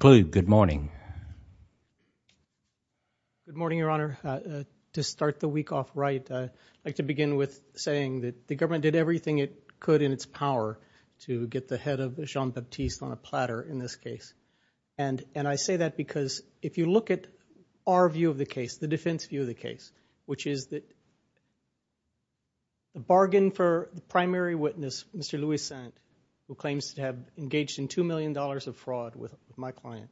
Good morning, Your Honor. To start the week off right, I'd like to begin with saying that the government did everything it could in its power to get the head of Jean Baptiste on a platter in this case. And I say that because if you look at our view of the case, the defense view of the case, which is that the bargain for the primary witness, Mr. Louis Sennett, who claims to have engaged in $2 million of fraud with my client,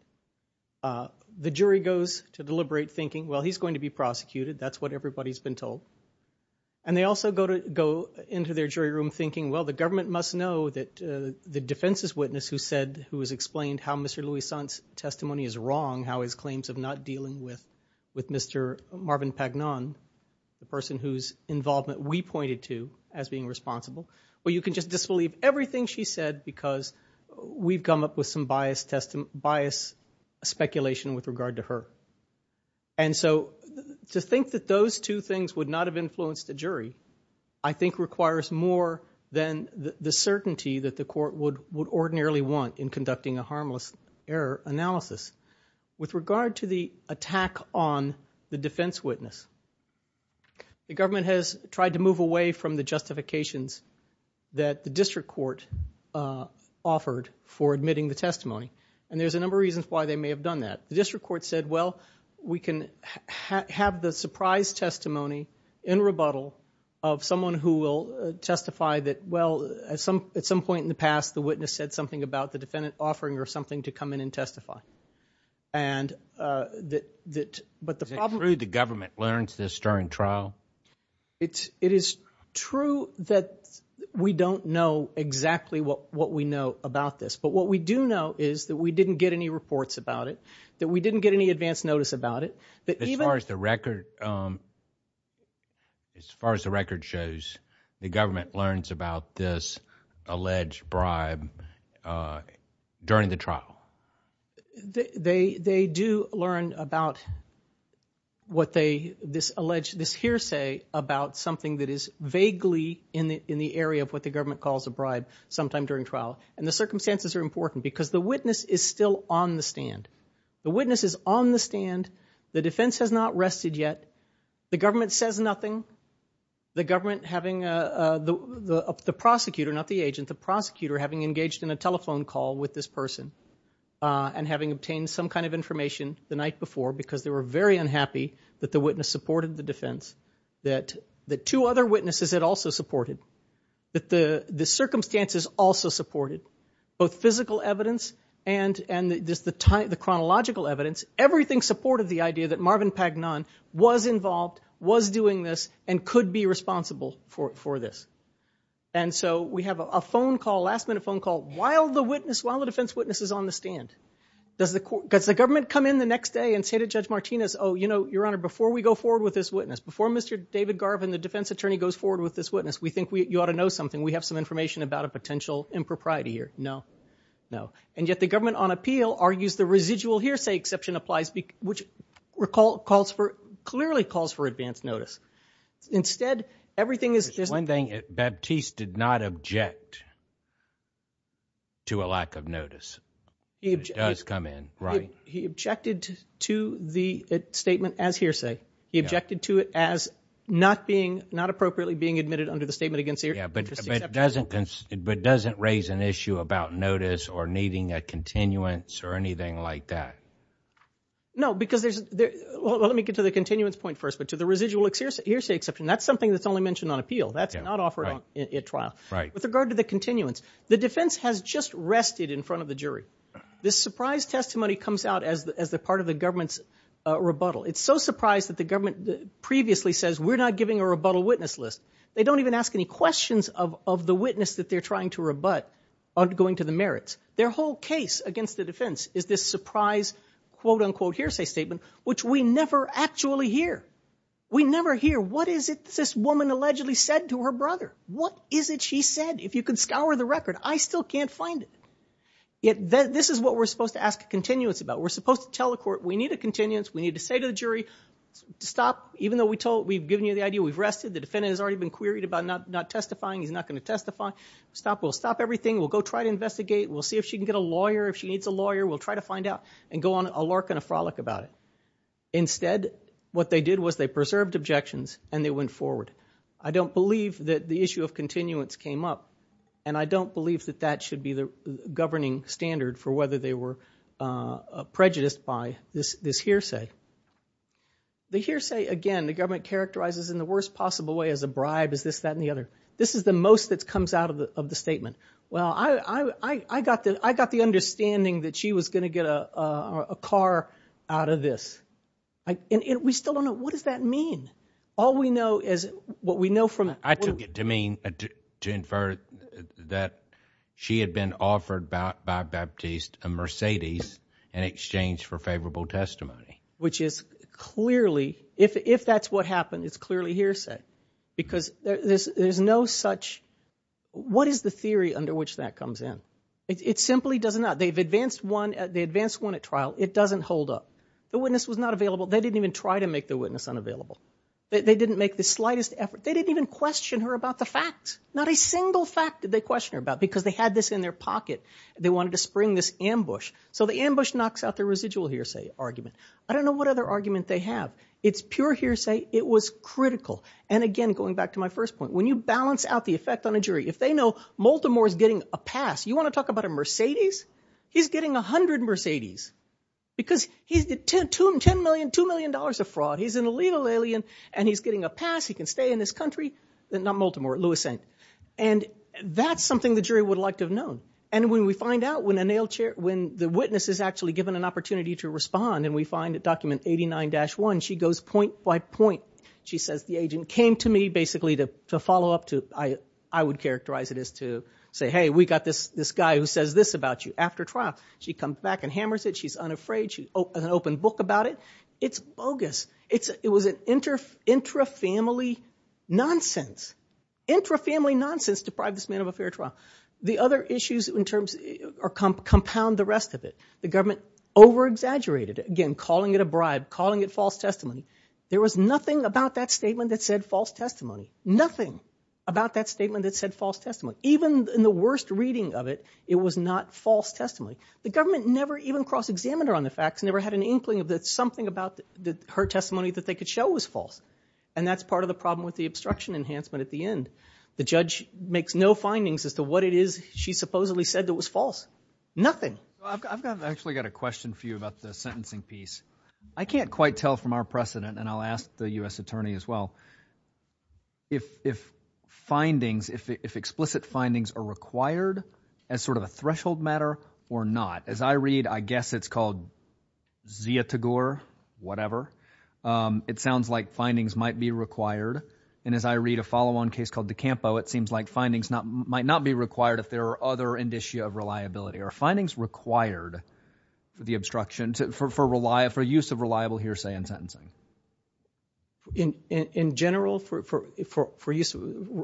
the jury goes to deliberate thinking, well, he's going to be prosecuted. That's what everybody's been told. And they also go to go into their jury room thinking, well, the government must know that the defense's witness who said who has explained how Mr. Louis Sennett's testimony is wrong, how his claims of not dealing with with Mr. Marvin Pagnon, the person whose involvement we pointed to as being responsible. Well, you can just disbelieve everything she said because we've come up with some biased, biased speculation with regard to her. And so to think that those two things would not have influenced the jury, I think requires more than the certainty that the court would ordinarily want in conducting a harmless error analysis. With regard to the attack on the defense witness, the government has tried to move away from the justifications that the district court offered for admitting the testimony. And there's a number of reasons why they may have done that. The district court said, well, we can have the surprise testimony in rebuttal of someone who will testify that, well, at some at some point in the past, the witness said something about the defendant offering or something to come in and testify. And that that but the government learns this during trial. It's it is true that we don't know exactly what what we know about this, but what we do know is that we didn't get any reports about it, that we didn't get any advance notice about it. As far as the record. As far as the record shows, the government learns about this alleged bribe during the trial. They they do learn about what they this alleged this hearsay about something that is vaguely in the in the area of what the government calls a bribe sometime during trial. And the circumstances are important because the witness is still on the stand. The witness is on the stand. The defense has not rested yet. The government says nothing. The government having the prosecutor, not the agent, the prosecutor having engaged in a telephone call with this person and having obtained some kind of information the night before, because they were very unhappy that the witness supported the defense, that the two other witnesses had also supported, that the the circumstances also supported both physical evidence and and the chronological evidence. Everything supported the idea that Marvin Pagnon was involved, was doing this and could be responsible for it for this. And so we have a phone call last minute phone call while the witness while the defense witnesses on the stand. Does the court because the government come in the next day and say to Judge Martinez, oh, you know, Your Honor, before we go forward with this witness before Mr. David Garvin, the defense attorney goes forward with this witness. We think you ought to know something. We have some information about a potential impropriety here. No, no. And yet the government on appeal argues the residual hearsay exception applies, which recall calls for clearly calls for advance notice. Instead, everything is one thing. It Baptiste did not object. To a lack of notice, he does come in, right. He objected to the statement as hearsay. He objected to it as not being not appropriately being admitted under the statement against. Yeah, but it doesn't but doesn't raise an issue about notice or needing a continuance or anything like that. No, because there's well, let me get to the continuance point first, but to the residual hearsay exception, that's something that's only mentioned on appeal. That's not offering a trial. Right. With regard to the continuance, the defense has just rested in front of the jury. This surprise testimony comes out as the as the part of the government's rebuttal. It's so surprised that the government previously says we're not giving a rebuttal witness list. They don't even ask any questions of the witness that they're trying to rebut on going to the merits. Their whole case against the defense is this surprise quote unquote hearsay statement, which we never actually hear. We never hear. What is it this woman allegedly said to her brother? What is it she said? If you can scour the record, I still can't find it. Yet this is what we're supposed to ask continuance about. We're supposed to tell the court we need a continuance. We need to say to the jury to stop. Even though we've given you the idea we've rested, the defendant has already been queried about not testifying. He's not going to testify. Stop. We'll stop everything. We'll go try to investigate. We'll see if she can get a lawyer. If she needs a lawyer, we'll try to find out and go on a lark and a frolic about it. Instead, what they did was they preserved objections and they went forward. I don't believe that the issue of continuance came up, and I don't believe that that should be the governing standard for whether they were prejudiced by this hearsay. The hearsay, again, the government characterizes in the worst possible way as a bribe, is this, that, and the other. This is the most that comes out of the statement. Well, I got the understanding that she was going to get a car out of this. And we still don't know. What does that mean? All we know is what we know from it. I took it to mean, to infer that she had been offered by Baptiste a Mercedes in exchange for favorable testimony. Which is clearly, if that's what happened, it's clearly hearsay. Because there's no such, what is the theory under which that comes in? It simply does not. They've advanced one at trial. It doesn't hold up. The witness was not available. They didn't even try to make the witness unavailable. They didn't make the slightest effort. They didn't even question her about the facts. Not a single fact did they question her about because they had this in their pocket. They wanted to spring this ambush. So the ambush knocks out their residual hearsay argument. I don't know what other argument they have. It's pure hearsay. It was critical. And again, going back to my first point, when you balance out the effect on a jury, if they know Maltimore is getting a pass, you want to talk about a Mercedes? He's getting 100 Mercedes. Because he's $10 million, $2 million of fraud. He's an illegal alien and he's getting a pass. He can stay in this country. Not Maltimore. Lewis St. And that's something the jury would have liked to have known. And when we find out, when the witness is actually given an opportunity to respond, and we find at document 89-1, she goes point by point. She says, the agent came to me basically to follow up. I would characterize it as to say, hey, we got this guy who says this about you. After trial, she comes back and hammers it. She's unafraid. She has an open book about it. It's bogus. It was an intra-family nonsense. Intra-family nonsense deprived this man of a fair trial. The other issues compound the rest of it. The government over-exaggerated. Again, calling it a bribe, calling it false testimony. There was nothing about that statement that said false testimony. Nothing about that statement that said false testimony. Even in the worst reading of it, it was not false testimony. The government never even cross-examined her on the facts, never had an inkling that something about her testimony that they could show was false. And that's part of the problem with the obstruction enhancement at the end. The judge makes no findings as to what it is she supposedly said that was false. Nothing. I've actually got a question for you about the sentencing piece. I can't quite tell from our precedent, and I'll ask the U.S. attorney as well, if findings, if explicit findings are required as sort of a threshold matter or not. As I read, I guess it's called Zia Tagore, whatever. It sounds like findings might be required. And as I read a follow-on case called DeCampo, it seems like findings might not be required if there are other indicia of reliability. Are findings required, the obstruction, for use of reliable hearsay in sentencing? In general, for use of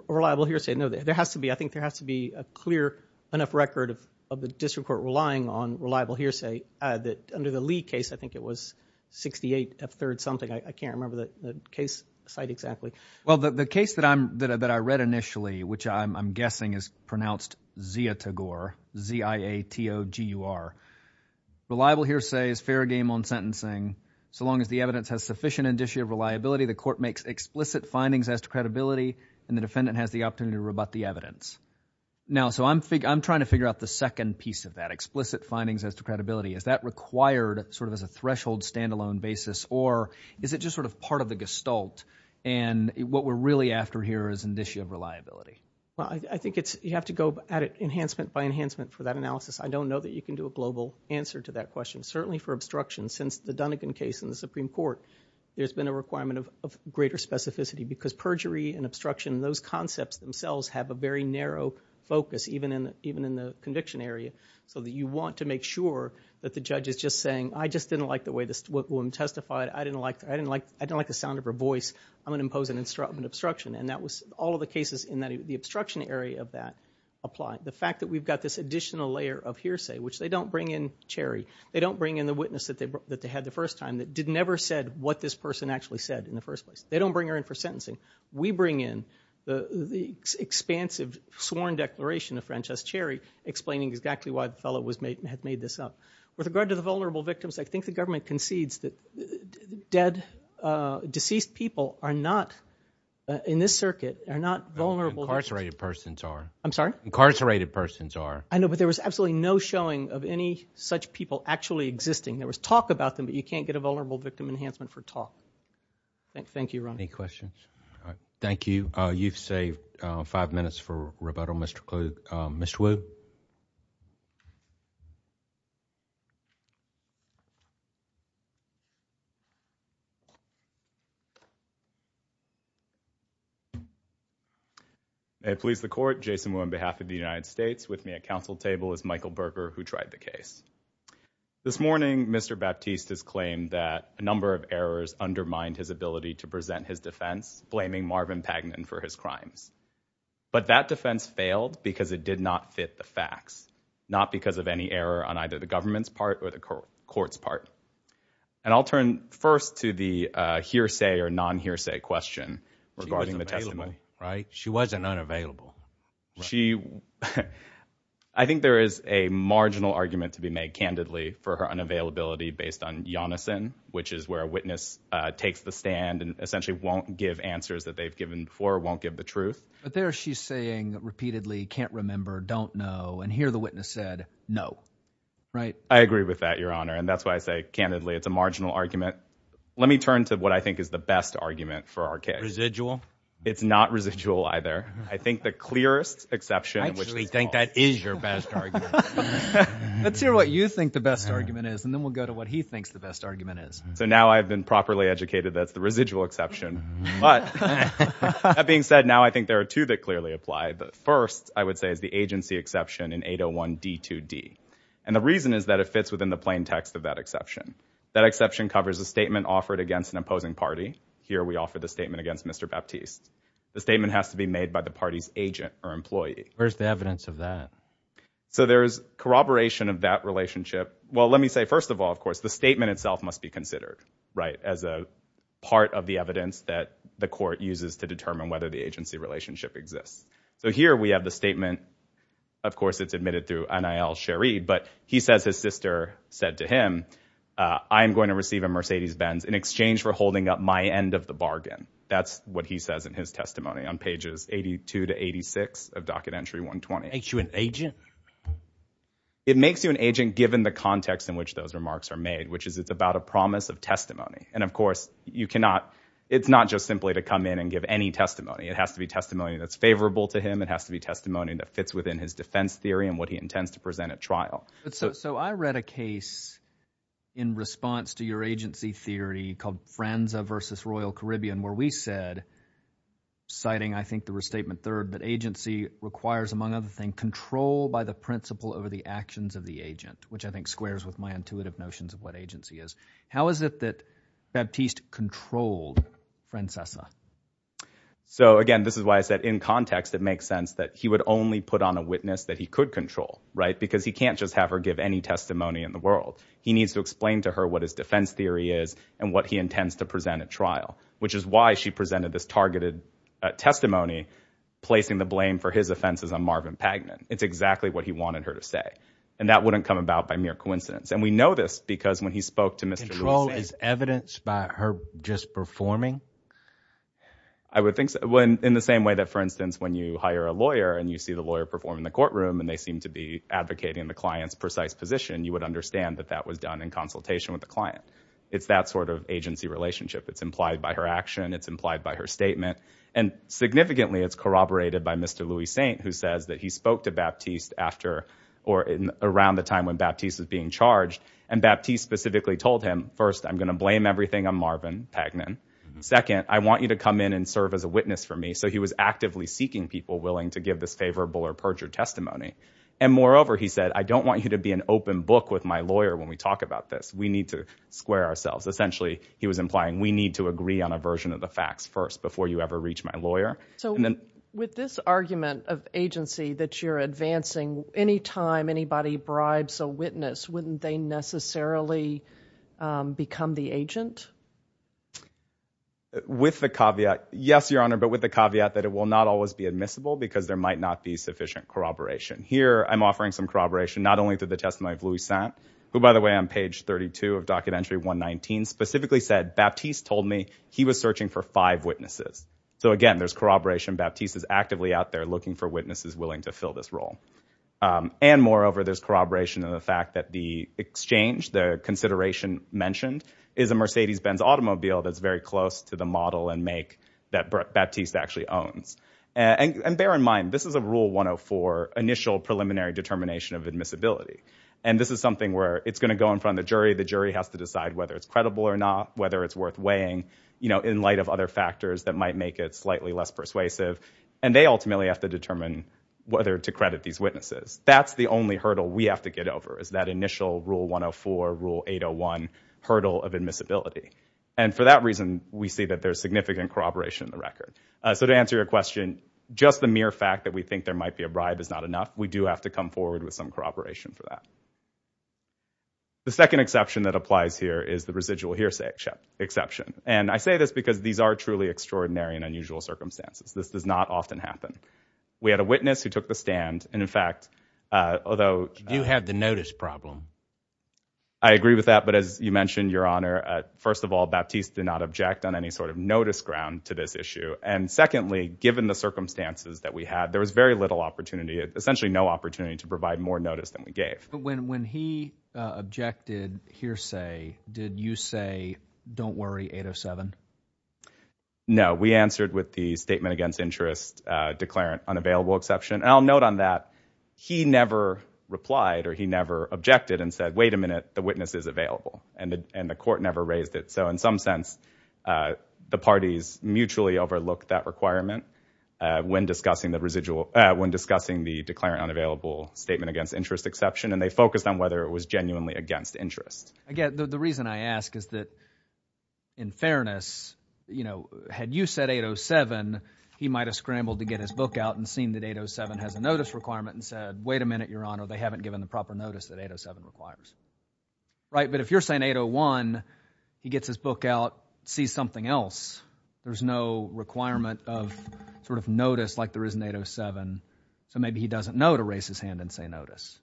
reliable hearsay, no. There has to be. I think there has to be a clear enough record of the district court relying on reliable hearsay. Under the Lee case, I think it was 68 of third something. I can't remember the case site exactly. Well, the case that I read initially, which I'm guessing is pronounced Zia Tagore, Z-I-A-T-O-G-U-R, reliable hearsay is fair game on sentencing. So long as the evidence has sufficient indicia of reliability, the court makes explicit findings as to credibility, and the defendant has the opportunity to rebut the evidence. Now, so I'm trying to figure out the second piece of that, explicit findings as to credibility. Is that required sort of as a threshold standalone basis, or is it just sort of part of the gestalt? And what we're really after here is indicia of reliability. Well, I think you have to go at it enhancement by enhancement for that analysis. I don't know that you can do a global answer to that question. Certainly for obstruction, since the Dunnegan case in the Supreme Court, there's been a requirement of greater specificity because perjury and obstruction, those concepts themselves have a very narrow focus, even in the conviction area, so that you want to make sure that the judge is just saying, I just didn't like the way this woman testified. I didn't like the sound of her voice. I'm going to impose an obstruction. And all of the cases in the obstruction area of that apply. The fact that we've got this additional layer of hearsay, which they don't bring in Cherry. They don't bring in the witness that they had the first time that never said what this person actually said in the first place. They don't bring her in for sentencing. We bring in the expansive sworn declaration of Frances Cherry, explaining exactly why the fellow had made this up. With regard to the vulnerable victims, I think the government concedes that dead, deceased people are not, in this circuit, are not vulnerable. Incarcerated persons are. I'm sorry? Incarcerated persons are. I know, but there was absolutely no showing of any such people actually existing. There was talk about them, but you can't get a vulnerable victim enhancement for talk. Thank you, Ron. Any questions? Thank you. You've saved five minutes for rebuttal, Mr. Kluge. Mr. Wu? May it please the Court, Jason Wu on behalf of the United States. With me at Council table is Michael Berger, who tried the case. This morning, Mr. Baptiste has claimed that a number of errors undermined his ability to present his defense, blaming Marvin Pagnin for his crimes. But that defense failed because it did not fit the facts, not because of any error on either the government's part or the court's part. And I'll turn first to the hearsay or non-hearsay question regarding the testimony. She wasn't available, right? She wasn't unavailable. She – I think there is a marginal argument to be made, candidly, for her unavailability, which is where a witness takes the stand and essentially won't give answers that they've given before, won't give the truth. But there she's saying repeatedly, can't remember, don't know, and here the witness said, no, right? I agree with that, Your Honor, and that's why I say, candidly, it's a marginal argument. Let me turn to what I think is the best argument for our case. Residual? It's not residual either. I think the clearest exception in which this falls. I actually think that is your best argument. Let's hear what you think the best argument is, and then we'll go to what he thinks the best argument is. So now I've been properly educated that it's the residual exception. But that being said, now I think there are two that clearly apply. The first, I would say, is the agency exception in 801D2D. And the reason is that it fits within the plain text of that exception. That exception covers a statement offered against an opposing party. Here we offer the statement against Mr. Baptiste. The statement has to be made by the party's agent or employee. Where's the evidence of that? So there's corroboration of that relationship. Well, let me say, first of all, of course, the statement itself must be considered, right, as a part of the evidence that the court uses to determine whether the agency relationship exists. So here we have the statement. Of course, it's admitted through Anayel Sherid, but he says his sister said to him, I'm going to receive a Mercedes-Benz in exchange for holding up my end of the bargain. That's what he says in his testimony on pages 82 to 86 of Docket Entry 120. It makes you an agent? It makes you an agent given the context in which those remarks are made, which is it's about a promise of testimony. And, of course, you cannot, it's not just simply to come in and give any testimony. It has to be testimony that's favorable to him. It has to be testimony that fits within his defense theory and what he intends to present at trial. So I read a case in response to your agency theory called Franza v. Royal Caribbean where we said, citing I think the restatement third, that agency requires, among other things, control by the principle over the actions of the agent, which I think squares with my intuitive notions of what agency is. How is it that Baptiste controlled Francais? So, again, this is why I said in context it makes sense that he would only put on a witness that he could control, right, because he can't just have her give any testimony in the world. He needs to explain to her what his defense theory is and what he intends to present at trial, which is why she presented this targeted testimony placing the blame for his offenses on Marvin Pagnin. It's exactly what he wanted her to say. And that wouldn't come about by mere coincidence. And we know this because when he spoke to Mr. Royce... Control is evidenced by her just performing? I would think so. In the same way that, for instance, when you hire a lawyer and you see the lawyer perform in the courtroom and they seem to be advocating the client's precise position, you would understand that that was done in consultation with the client. It's that sort of agency relationship. It's implied by her action. It's implied by her statement. And significantly, it's corroborated by Mr. Louis Saint, who says that he spoke to Baptiste after or around the time when Baptiste was being charged, and Baptiste specifically told him, first, I'm going to blame everything on Marvin Pagnin. Second, I want you to come in and serve as a witness for me. So he was actively seeking people willing to give this favorable or perjured testimony. And moreover, he said, I don't want you to be an open book with my lawyer when we talk about this. We need to square ourselves. Essentially, he was implying we need to agree on a version of the facts first before you ever reach my lawyer. So with this argument of agency that you're advancing, any time anybody bribes a witness, wouldn't they necessarily become the agent? With the caveat, yes, Your Honor, but with the caveat that it will not always be admissible because there might not be sufficient corroboration. Here, I'm offering some corroboration not only through the testimony of Louis Saint, who, by the way, on page 32 of Documentary 119, specifically said, Baptiste told me he was searching for five witnesses. So again, there's corroboration. Baptiste is actively out there looking for witnesses willing to fill this role. And moreover, there's corroboration in the fact that the exchange, the consideration mentioned, is a Mercedes-Benz automobile that's very close to the model and make that Baptiste actually owns. And bear in mind, this is a Rule 104 initial preliminary determination of admissibility. And this is something where it's going to go in front of the jury. The jury has to decide whether it's credible or not, whether it's worth weighing, in light of other factors that might make it slightly less persuasive. And they ultimately have to determine whether to credit these witnesses. That's the only hurdle we have to get over is that initial Rule 104, Rule 801 hurdle of admissibility. And for that reason, we see that there's significant corroboration in the record. So to answer your question, just the mere fact that we think there might be a bribe is not enough. We do have to come forward with some corroboration for that. The second exception that applies here is the residual hearsay exception. And I say this because these are truly extraordinary and unusual circumstances. This does not often happen. We had a witness who took the stand, and in fact, although— You had the notice problem. I agree with that, but as you mentioned, Your Honor, first of all, Baptiste did not object on any sort of notice ground to this issue. And secondly, given the circumstances that we had, there was very little opportunity. Essentially no opportunity to provide more notice than we gave. But when he objected hearsay, did you say, don't worry, 807? No. We answered with the statement against interest declarant unavailable exception. And I'll note on that he never replied or he never objected and said, wait a minute, the witness is available. And the court never raised it. So in some sense, the parties mutually overlooked that requirement when discussing the residual— when discussing the declarant unavailable statement against interest exception, and they focused on whether it was genuinely against interest. Again, the reason I ask is that in fairness, you know, had you said 807, he might have scrambled to get his book out and seen that 807 has a notice requirement and said, wait a minute, Your Honor, they haven't given the proper notice that 807 requires. Right? But if you're saying 801, he gets his book out, sees something else. There's no requirement of sort of notice like there is in 807. So maybe he doesn't know to raise his hand and say notice.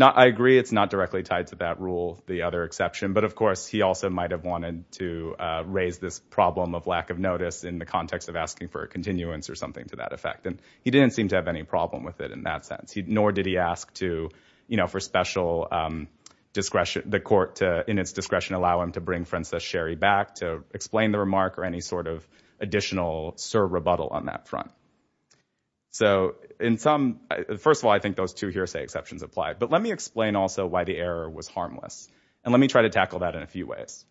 I agree it's not directly tied to that rule, the other exception. But of course, he also might have wanted to raise this problem of lack of notice in the context of asking for a continuance or something to that effect. And he didn't seem to have any problem with it in that sense. Nor did he ask to, you know, for special discretion— the court to, in its discretion, allow him to bring Frances Sherry back to explain the remark or any sort of additional serve rebuttal on that front. So in some—first of all, I think those two hearsay exceptions apply. But let me explain also why the error was harmless. And let me try to tackle that in a few ways.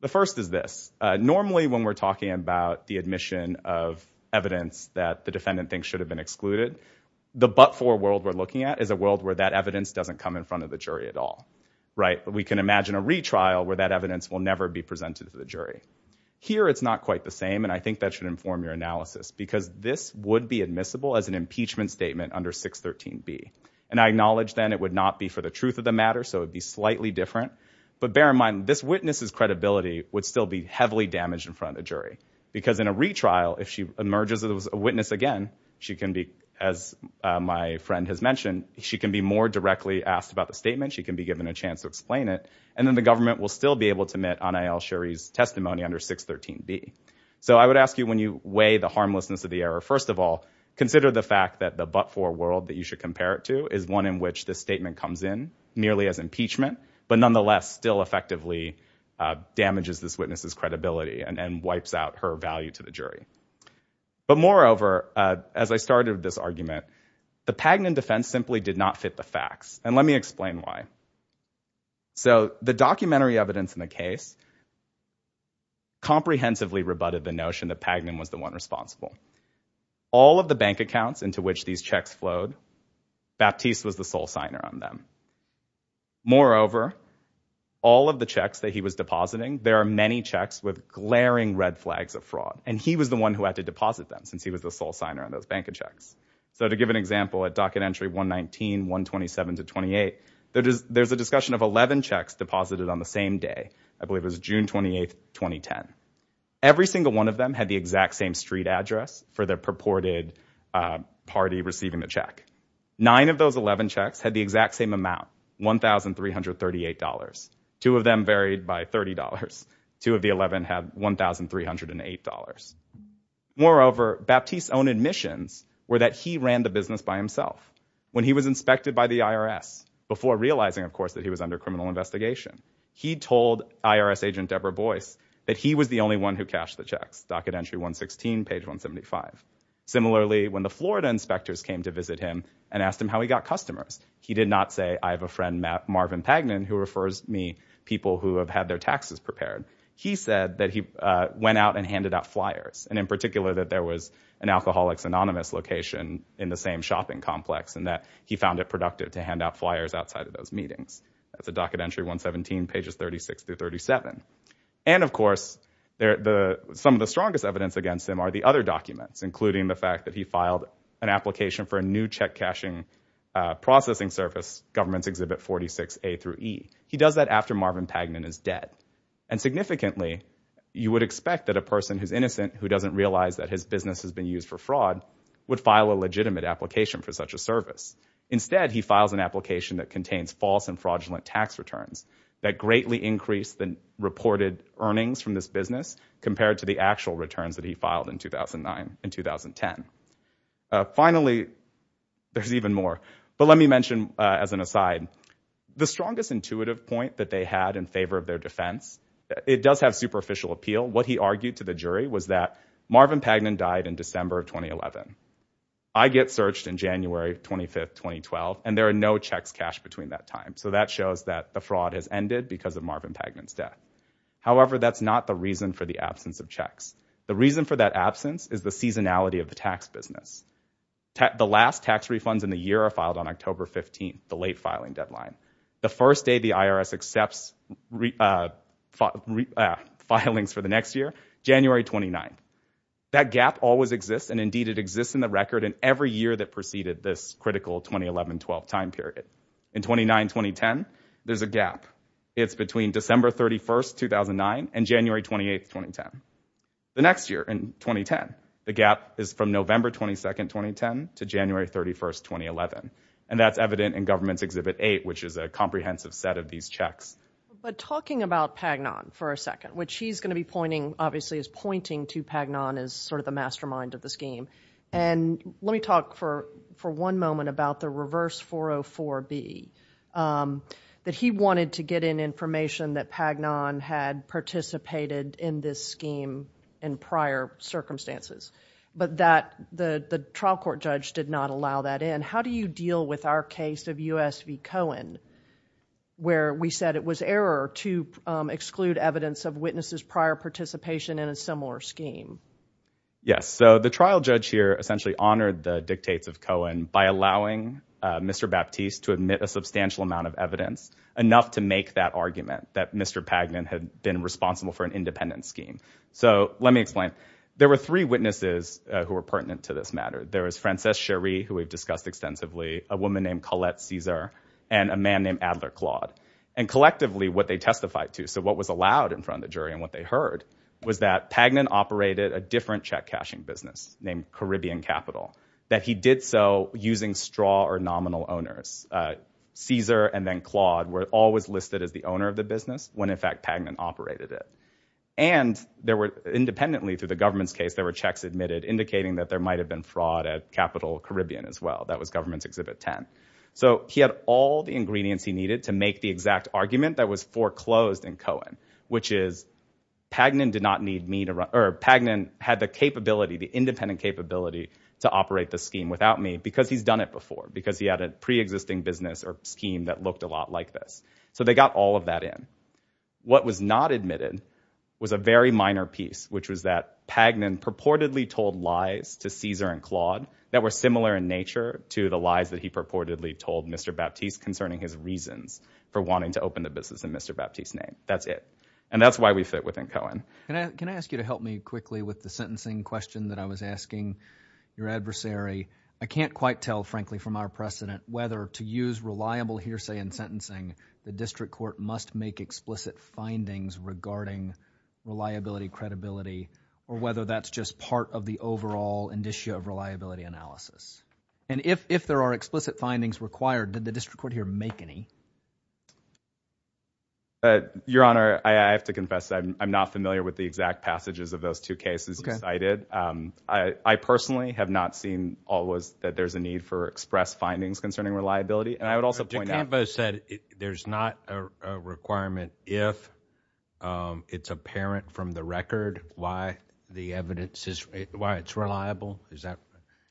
The first is this. Normally when we're talking about the admission of evidence that the defendant thinks should have been excluded, the but-for world we're looking at is a world where that evidence doesn't come in front of the jury at all, right? We can imagine a retrial where that evidence will never be presented to the jury. Here it's not quite the same, and I think that should inform your analysis because this would be admissible as an impeachment statement under 613B. And I acknowledge then it would not be for the truth of the matter, so it would be slightly different. But bear in mind, this witness's credibility would still be heavily damaged in front of the jury because in a retrial, if she emerges as a witness again, she can be, as my friend has mentioned, she can be more directly asked about the statement. She can be given a chance to explain it. And then the government will still be able to admit Anayel Shari's testimony under 613B. So I would ask you when you weigh the harmlessness of the error, first of all, consider the fact that the but-for world that you should compare it to is one in which the statement comes in merely as impeachment, but nonetheless still effectively damages this witness's credibility and wipes out her value to the jury. But moreover, as I started this argument, the Pagnon defense simply did not fit the facts, and let me explain why. So the documentary evidence in the case comprehensively rebutted the notion that Pagnon was the one responsible. All of the bank accounts into which these checks flowed, Baptiste was the sole signer on them. Moreover, all of the checks that he was depositing, there are many checks with glaring red flags of fraud, and he was the one who had to deposit them since he was the sole signer on those bank checks. So to give an example, at docket entry 119, 127 to 28, there's a discussion of 11 checks deposited on the same day. I believe it was June 28, 2010. Every single one of them had the exact same street address for the purported party receiving the check. Nine of those 11 checks had the exact same amount, $1,338. Two of them varied by $30. Two of the 11 had $1,308. Moreover, Baptiste's own admissions were that he ran the business by himself. When he was inspected by the IRS, before realizing, of course, that he was under criminal investigation, he told IRS agent Deborah Boyce that he was the only one who cashed the checks, docket entry 116, page 175. Similarly, when the Florida inspectors came to visit him and asked him how he got customers, he did not say, I have a friend, Marvin Pagnin, who refers me people who have had their taxes prepared. He said that he went out and handed out flyers, and in particular that there was an Alcoholics Anonymous location in the same shopping complex and that he found it productive to hand out flyers outside of those meetings. That's a docket entry 117, pages 36 through 37. And, of course, some of the strongest evidence against him are the other documents, including the fact that he filed an application for a new check-cashing processing service, Governments Exhibit 46A through E. He does that after Marvin Pagnin is dead. And significantly, you would expect that a person who's innocent, who doesn't realize that his business has been used for fraud, would file a legitimate application for such a service. Instead, he files an application that contains false and fraudulent tax returns that greatly increase the reported earnings from this business compared to the actual returns that he filed in 2009 and 2010. Finally, there's even more. But let me mention as an aside, the strongest intuitive point that they had in favor of their defense, it does have superficial appeal. What he argued to the jury was that Marvin Pagnin died in December of 2011. I get searched in January 25, 2012, and there are no checks cashed between that time. So that shows that the fraud has ended because of Marvin Pagnin's death. However, that's not the reason for the absence of checks. The reason for that absence is the seasonality of the tax business. The last tax refunds in the year are filed on October 15, the late filing deadline. The first day the IRS accepts filings for the next year, January 29. That gap always exists, and indeed it exists in the record in every year that preceded this critical 2011-12 time period. In 2009-2010, there's a gap. It's between December 31, 2009 and January 28, 2010. The next year, in 2010, the gap is from November 22, 2010 to January 31, 2011. And that's evident in Government's Exhibit 8, which is a comprehensive set of these checks. But talking about Pagnin for a second, which he's going to be pointing, obviously is pointing to Pagnin as sort of the mastermind of the scheme. Let me talk for one moment about the reverse 404B, that he wanted to get in information that Pagnin had participated in this scheme in prior circumstances, but the trial court judge did not allow that in. How do you deal with our case of U.S. v. Cohen, where we said it was error to exclude evidence of witnesses' prior participation in a similar scheme? Yes, so the trial judge here essentially honored the dictates of Cohen by allowing Mr. Baptiste to admit a substantial amount of evidence, enough to make that argument that Mr. Pagnin had been responsible for an independent scheme. So let me explain. There were three witnesses who were pertinent to this matter. There was Frances Cherie, who we've discussed extensively, a woman named Collette Caesar, and a man named Adler Claude. And collectively, what they testified to, so what was allowed in front of the jury and what they heard, was that Pagnin operated a different check-cashing business named Caribbean Capital, that he did so using straw or nominal owners. Caesar and then Claude were always listed as the owner of the business when, in fact, Pagnin operated it. And independently, through the government's case, there were checks admitted indicating that there might have been fraud at Capital Caribbean as well. That was Government Exhibit 10. So he had all the ingredients he needed to make the exact argument that was foreclosed in Cohen, which is Pagnin had the capability, the independent capability, to operate the scheme without me because he's done it before, because he had a pre-existing business or scheme that looked a lot like this. So they got all of that in. What was not admitted was a very minor piece, which was that Pagnin purportedly told lies to Caesar and Claude that were similar in nature to the lies that he purportedly told Mr. Baptiste concerning his reasons for wanting to open the business in Mr. Baptiste's name. That's it. And that's why we fit within Cohen. Can I ask you to help me quickly with the sentencing question that I was asking your adversary? I can't quite tell, frankly, from our precedent whether to use reliable hearsay in sentencing, the district court must make explicit findings regarding reliability, credibility, or whether that's just part of the overall indicia of reliability analysis. And if there are explicit findings required, did the district court here make any? Your Honor, I have to confess that I'm not familiar with the exact passages of those two cases you cited. I personally have not seen always that there's a need for express findings concerning reliability. And I would also point out— But DeCampo said there's not a requirement if it's apparent from the record why the evidence is— why it's reliable.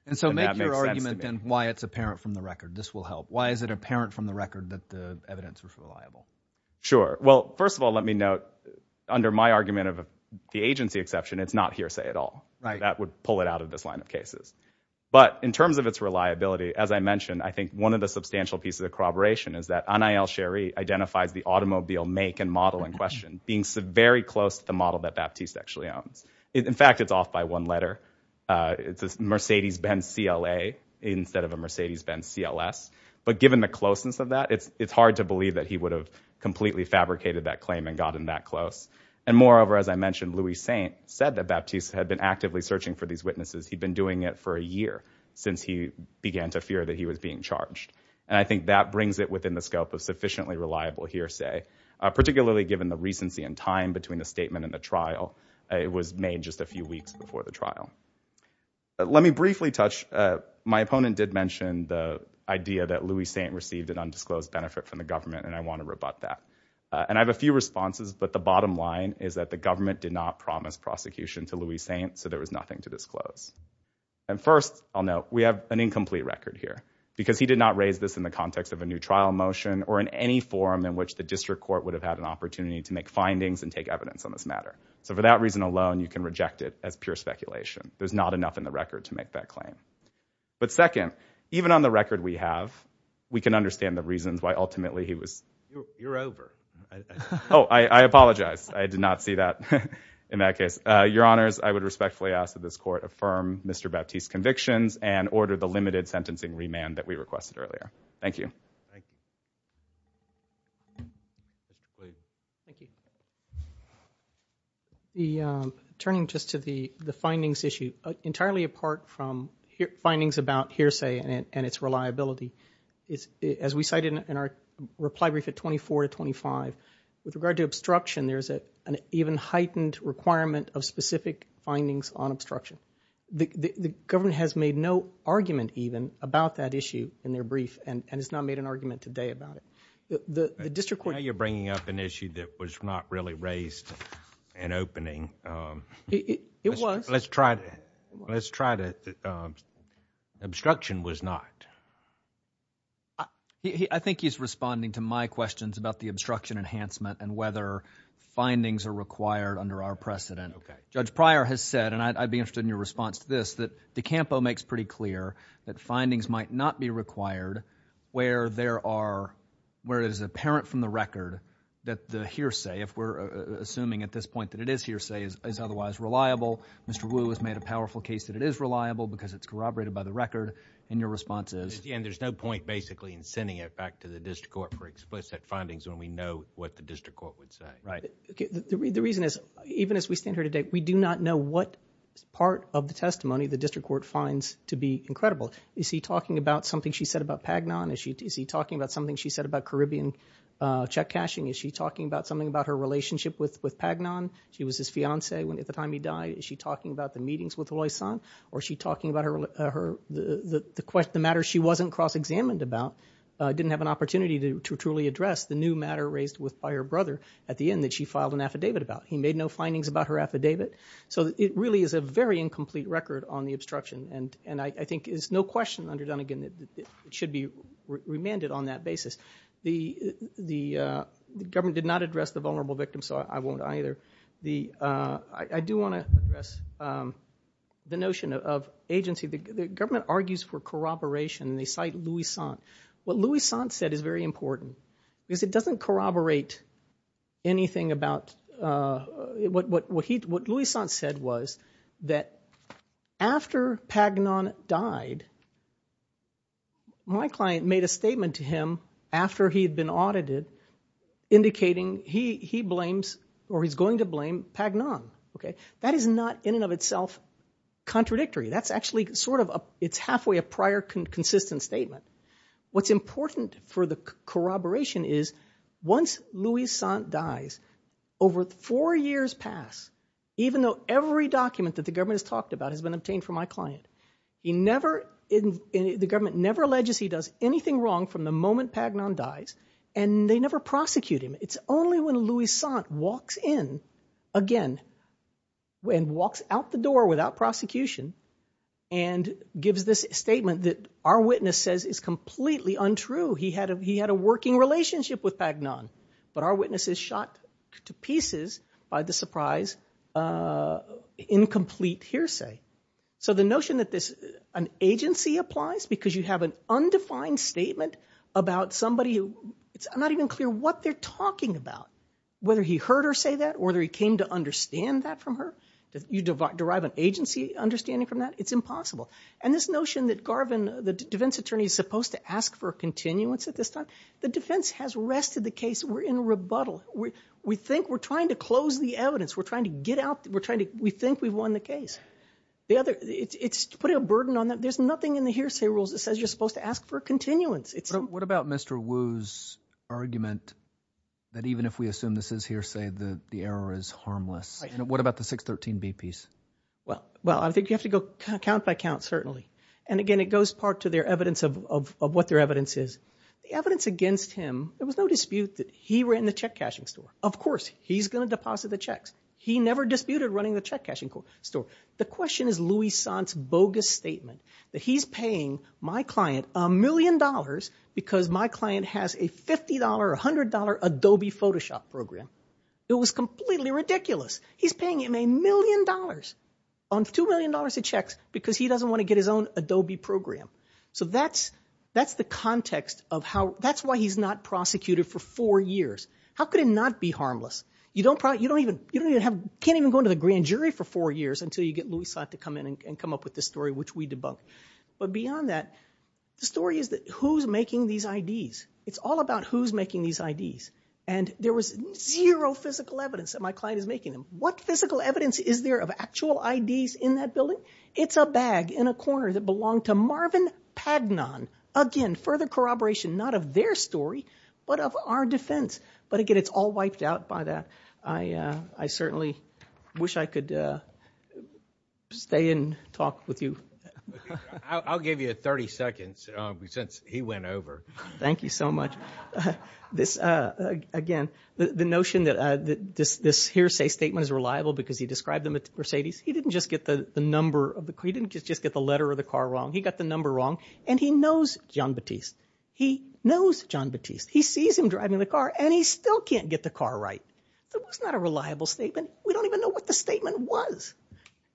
And so make your argument then why it's apparent from the record. This will help. Why is it apparent from the record that the evidence was reliable? Sure. Well, first of all, let me note, under my argument of the agency exception, it's not hearsay at all. Right. That would pull it out of this line of cases. But in terms of its reliability, as I mentioned, I think one of the substantial pieces of corroboration is that Anay El-Sherry identifies the automobile make and model in question being very close to the model that Baptiste actually owns. In fact, it's off by one letter. It's a Mercedes-Benz CLA instead of a Mercedes-Benz CLS. But given the closeness of that, it's hard to believe that he would have completely fabricated that claim and gotten that close. And moreover, as I mentioned, Louis Saint said that Baptiste had been actively searching for these witnesses. He'd been doing it for a year since he began to fear that he was being charged. And I think that brings it within the scope of sufficiently reliable hearsay, particularly given the recency and time between the statement and the trial. It was made just a few weeks before the trial. Let me briefly touch, my opponent did mention the idea that Louis Saint received an undisclosed benefit from the government, and I want to rebut that. And I have a few responses, but the bottom line is that the government did not promise prosecution to Louis Saint, so there was nothing to disclose. And first, I'll note, we have an incomplete record here because he did not raise this in the context of a new trial motion or in any forum in which the district court would have had an opportunity to make findings and take evidence on this matter. So for that reason alone, you can reject it as pure speculation. There's not enough in the record to make that claim. But second, even on the record we have, we can understand the reasons why ultimately he was... You're over. Oh, I apologize. I did not see that in that case. Your Honors, I would respectfully ask that this court affirm Mr. Baptiste's convictions and order the limited sentencing remand that we requested earlier. Thank you. Thank you. Please. Thank you. Turning just to the findings issue, entirely apart from findings about hearsay and its reliability, as we cited in our reply brief at 24 to 25, with regard to obstruction, there's an even heightened requirement of specific findings on obstruction. The government has made no argument even about that issue in their brief and has not made an argument today about it. The district court... It was. Let's try to... Obstruction was not. I think he's responding to my questions about the obstruction enhancement and whether findings are required under our precedent. Okay. Judge Pryor has said, and I'd be interested in your response to this, that DeCampo makes pretty clear that findings might not be required where it is apparent from the record that the hearsay, if we're assuming at this point that it is hearsay, is otherwise reliable. Mr. Wu has made a powerful case that it is reliable because it's corroborated by the record, and your response is... At the end, there's no point basically in sending it back to the district court for explicit findings when we know what the district court would say. Right. The reason is, even as we stand here today, we do not know what part of the testimony the district court finds to be incredible. Is he talking about something she said about Pagnon? Is he talking about something she said about Caribbean check cashing? Is she talking about something about her relationship with Pagnon? She was his fiancée at the time he died. Is she talking about the meetings with Loisan? Or is she talking about the matter she wasn't cross-examined about, didn't have an opportunity to truly address, the new matter raised by her brother at the end that she filed an affidavit about? He made no findings about her affidavit. So it really is a very incomplete record on the obstruction, and I think there's no question under Dunnegan that it should be remanded on that basis. The government did not address the vulnerable victim, so I won't either. I do want to address the notion of agency. The government argues for corroboration, and they cite Loisan. What Loisan said is very important, because it doesn't corroborate anything about what Loisan said was that after Pagnon died, my client made a statement to him after he had been audited indicating he blames or he's going to blame Pagnon. That is not in and of itself contradictory. That's actually sort of halfway a prior consistent statement. What's important for the corroboration is once Loisan dies, over four years pass, even though every document that the government has talked about has been obtained from my client, the government never alleges he does anything wrong from the moment Pagnon dies, and they never prosecute him. It's only when Loisan walks in again and walks out the door without prosecution and gives this statement that our witness says is completely untrue. He had a working relationship with Pagnon, but our witness is shot to pieces by the surprise incomplete hearsay. So the notion that an agency applies because you have an undefined statement about somebody, it's not even clear what they're talking about, whether he heard her say that or whether he came to understand that from her. You derive an agency understanding from that? It's impossible. And this notion that Garvin, the defense attorney, is supposed to ask for a continuance at this time, the defense has wrested the case. We're in rebuttal. We think we're trying to close the evidence. We're trying to get out. We think we've won the case. It's putting a burden on them. There's nothing in the hearsay rules that says you're supposed to ask for a continuance. What about Mr. Wu's argument that even if we assume this is hearsay, the error is harmless? What about the 613b piece? Well, I think you have to go count by count, certainly. And again, it goes part to their evidence of what their evidence is. The evidence against him, there was no dispute that he ran the check-cashing store. Of course, he's going to deposit the checks. He never disputed running the check-cashing store. The question is Louis Sant's bogus statement that he's paying my client a million dollars because my client has a $50 or $100 Adobe Photoshop program. It was completely ridiculous. He's paying him a million dollars on $2 million of checks because he doesn't want to get his own Adobe program. So that's the context of how... That's why he's not prosecuted for four years. How could it not be harmless? You can't even go into the grand jury for four years until you get Louis Sant to come in and come up with this story, which we debunked. But beyond that, the story is who's making these IDs. It's all about who's making these IDs. And there was zero physical evidence that my client is making them. What physical evidence is there of actual IDs in that building? It's a bag in a corner that belonged to Marvin Pagnon. Again, further corroboration not of their story, but of our defense. But again, it's all wiped out by that. I certainly wish I could stay and talk with you. I'll give you 30 seconds since he went over. Thank you so much. Again, the notion that this hearsay statement is reliable because he described the Mercedes, he didn't just get the number... He didn't just get the letter of the car wrong. He got the number wrong, and he knows Jean-Baptiste. He knows Jean-Baptiste. He sees him driving the car, and he still can't get the car right. That was not a reliable statement. We don't even know what the statement was.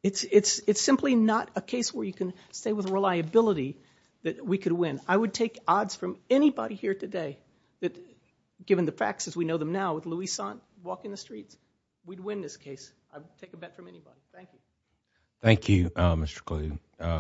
It's simply not a case where you can stay with reliability that we could win. I would take odds from anybody here today that given the facts as we know them now with Louis Sant walking the streets, we'd win this case. I would take a bet from anybody. Thank you. Thank you, Mr. Kluge.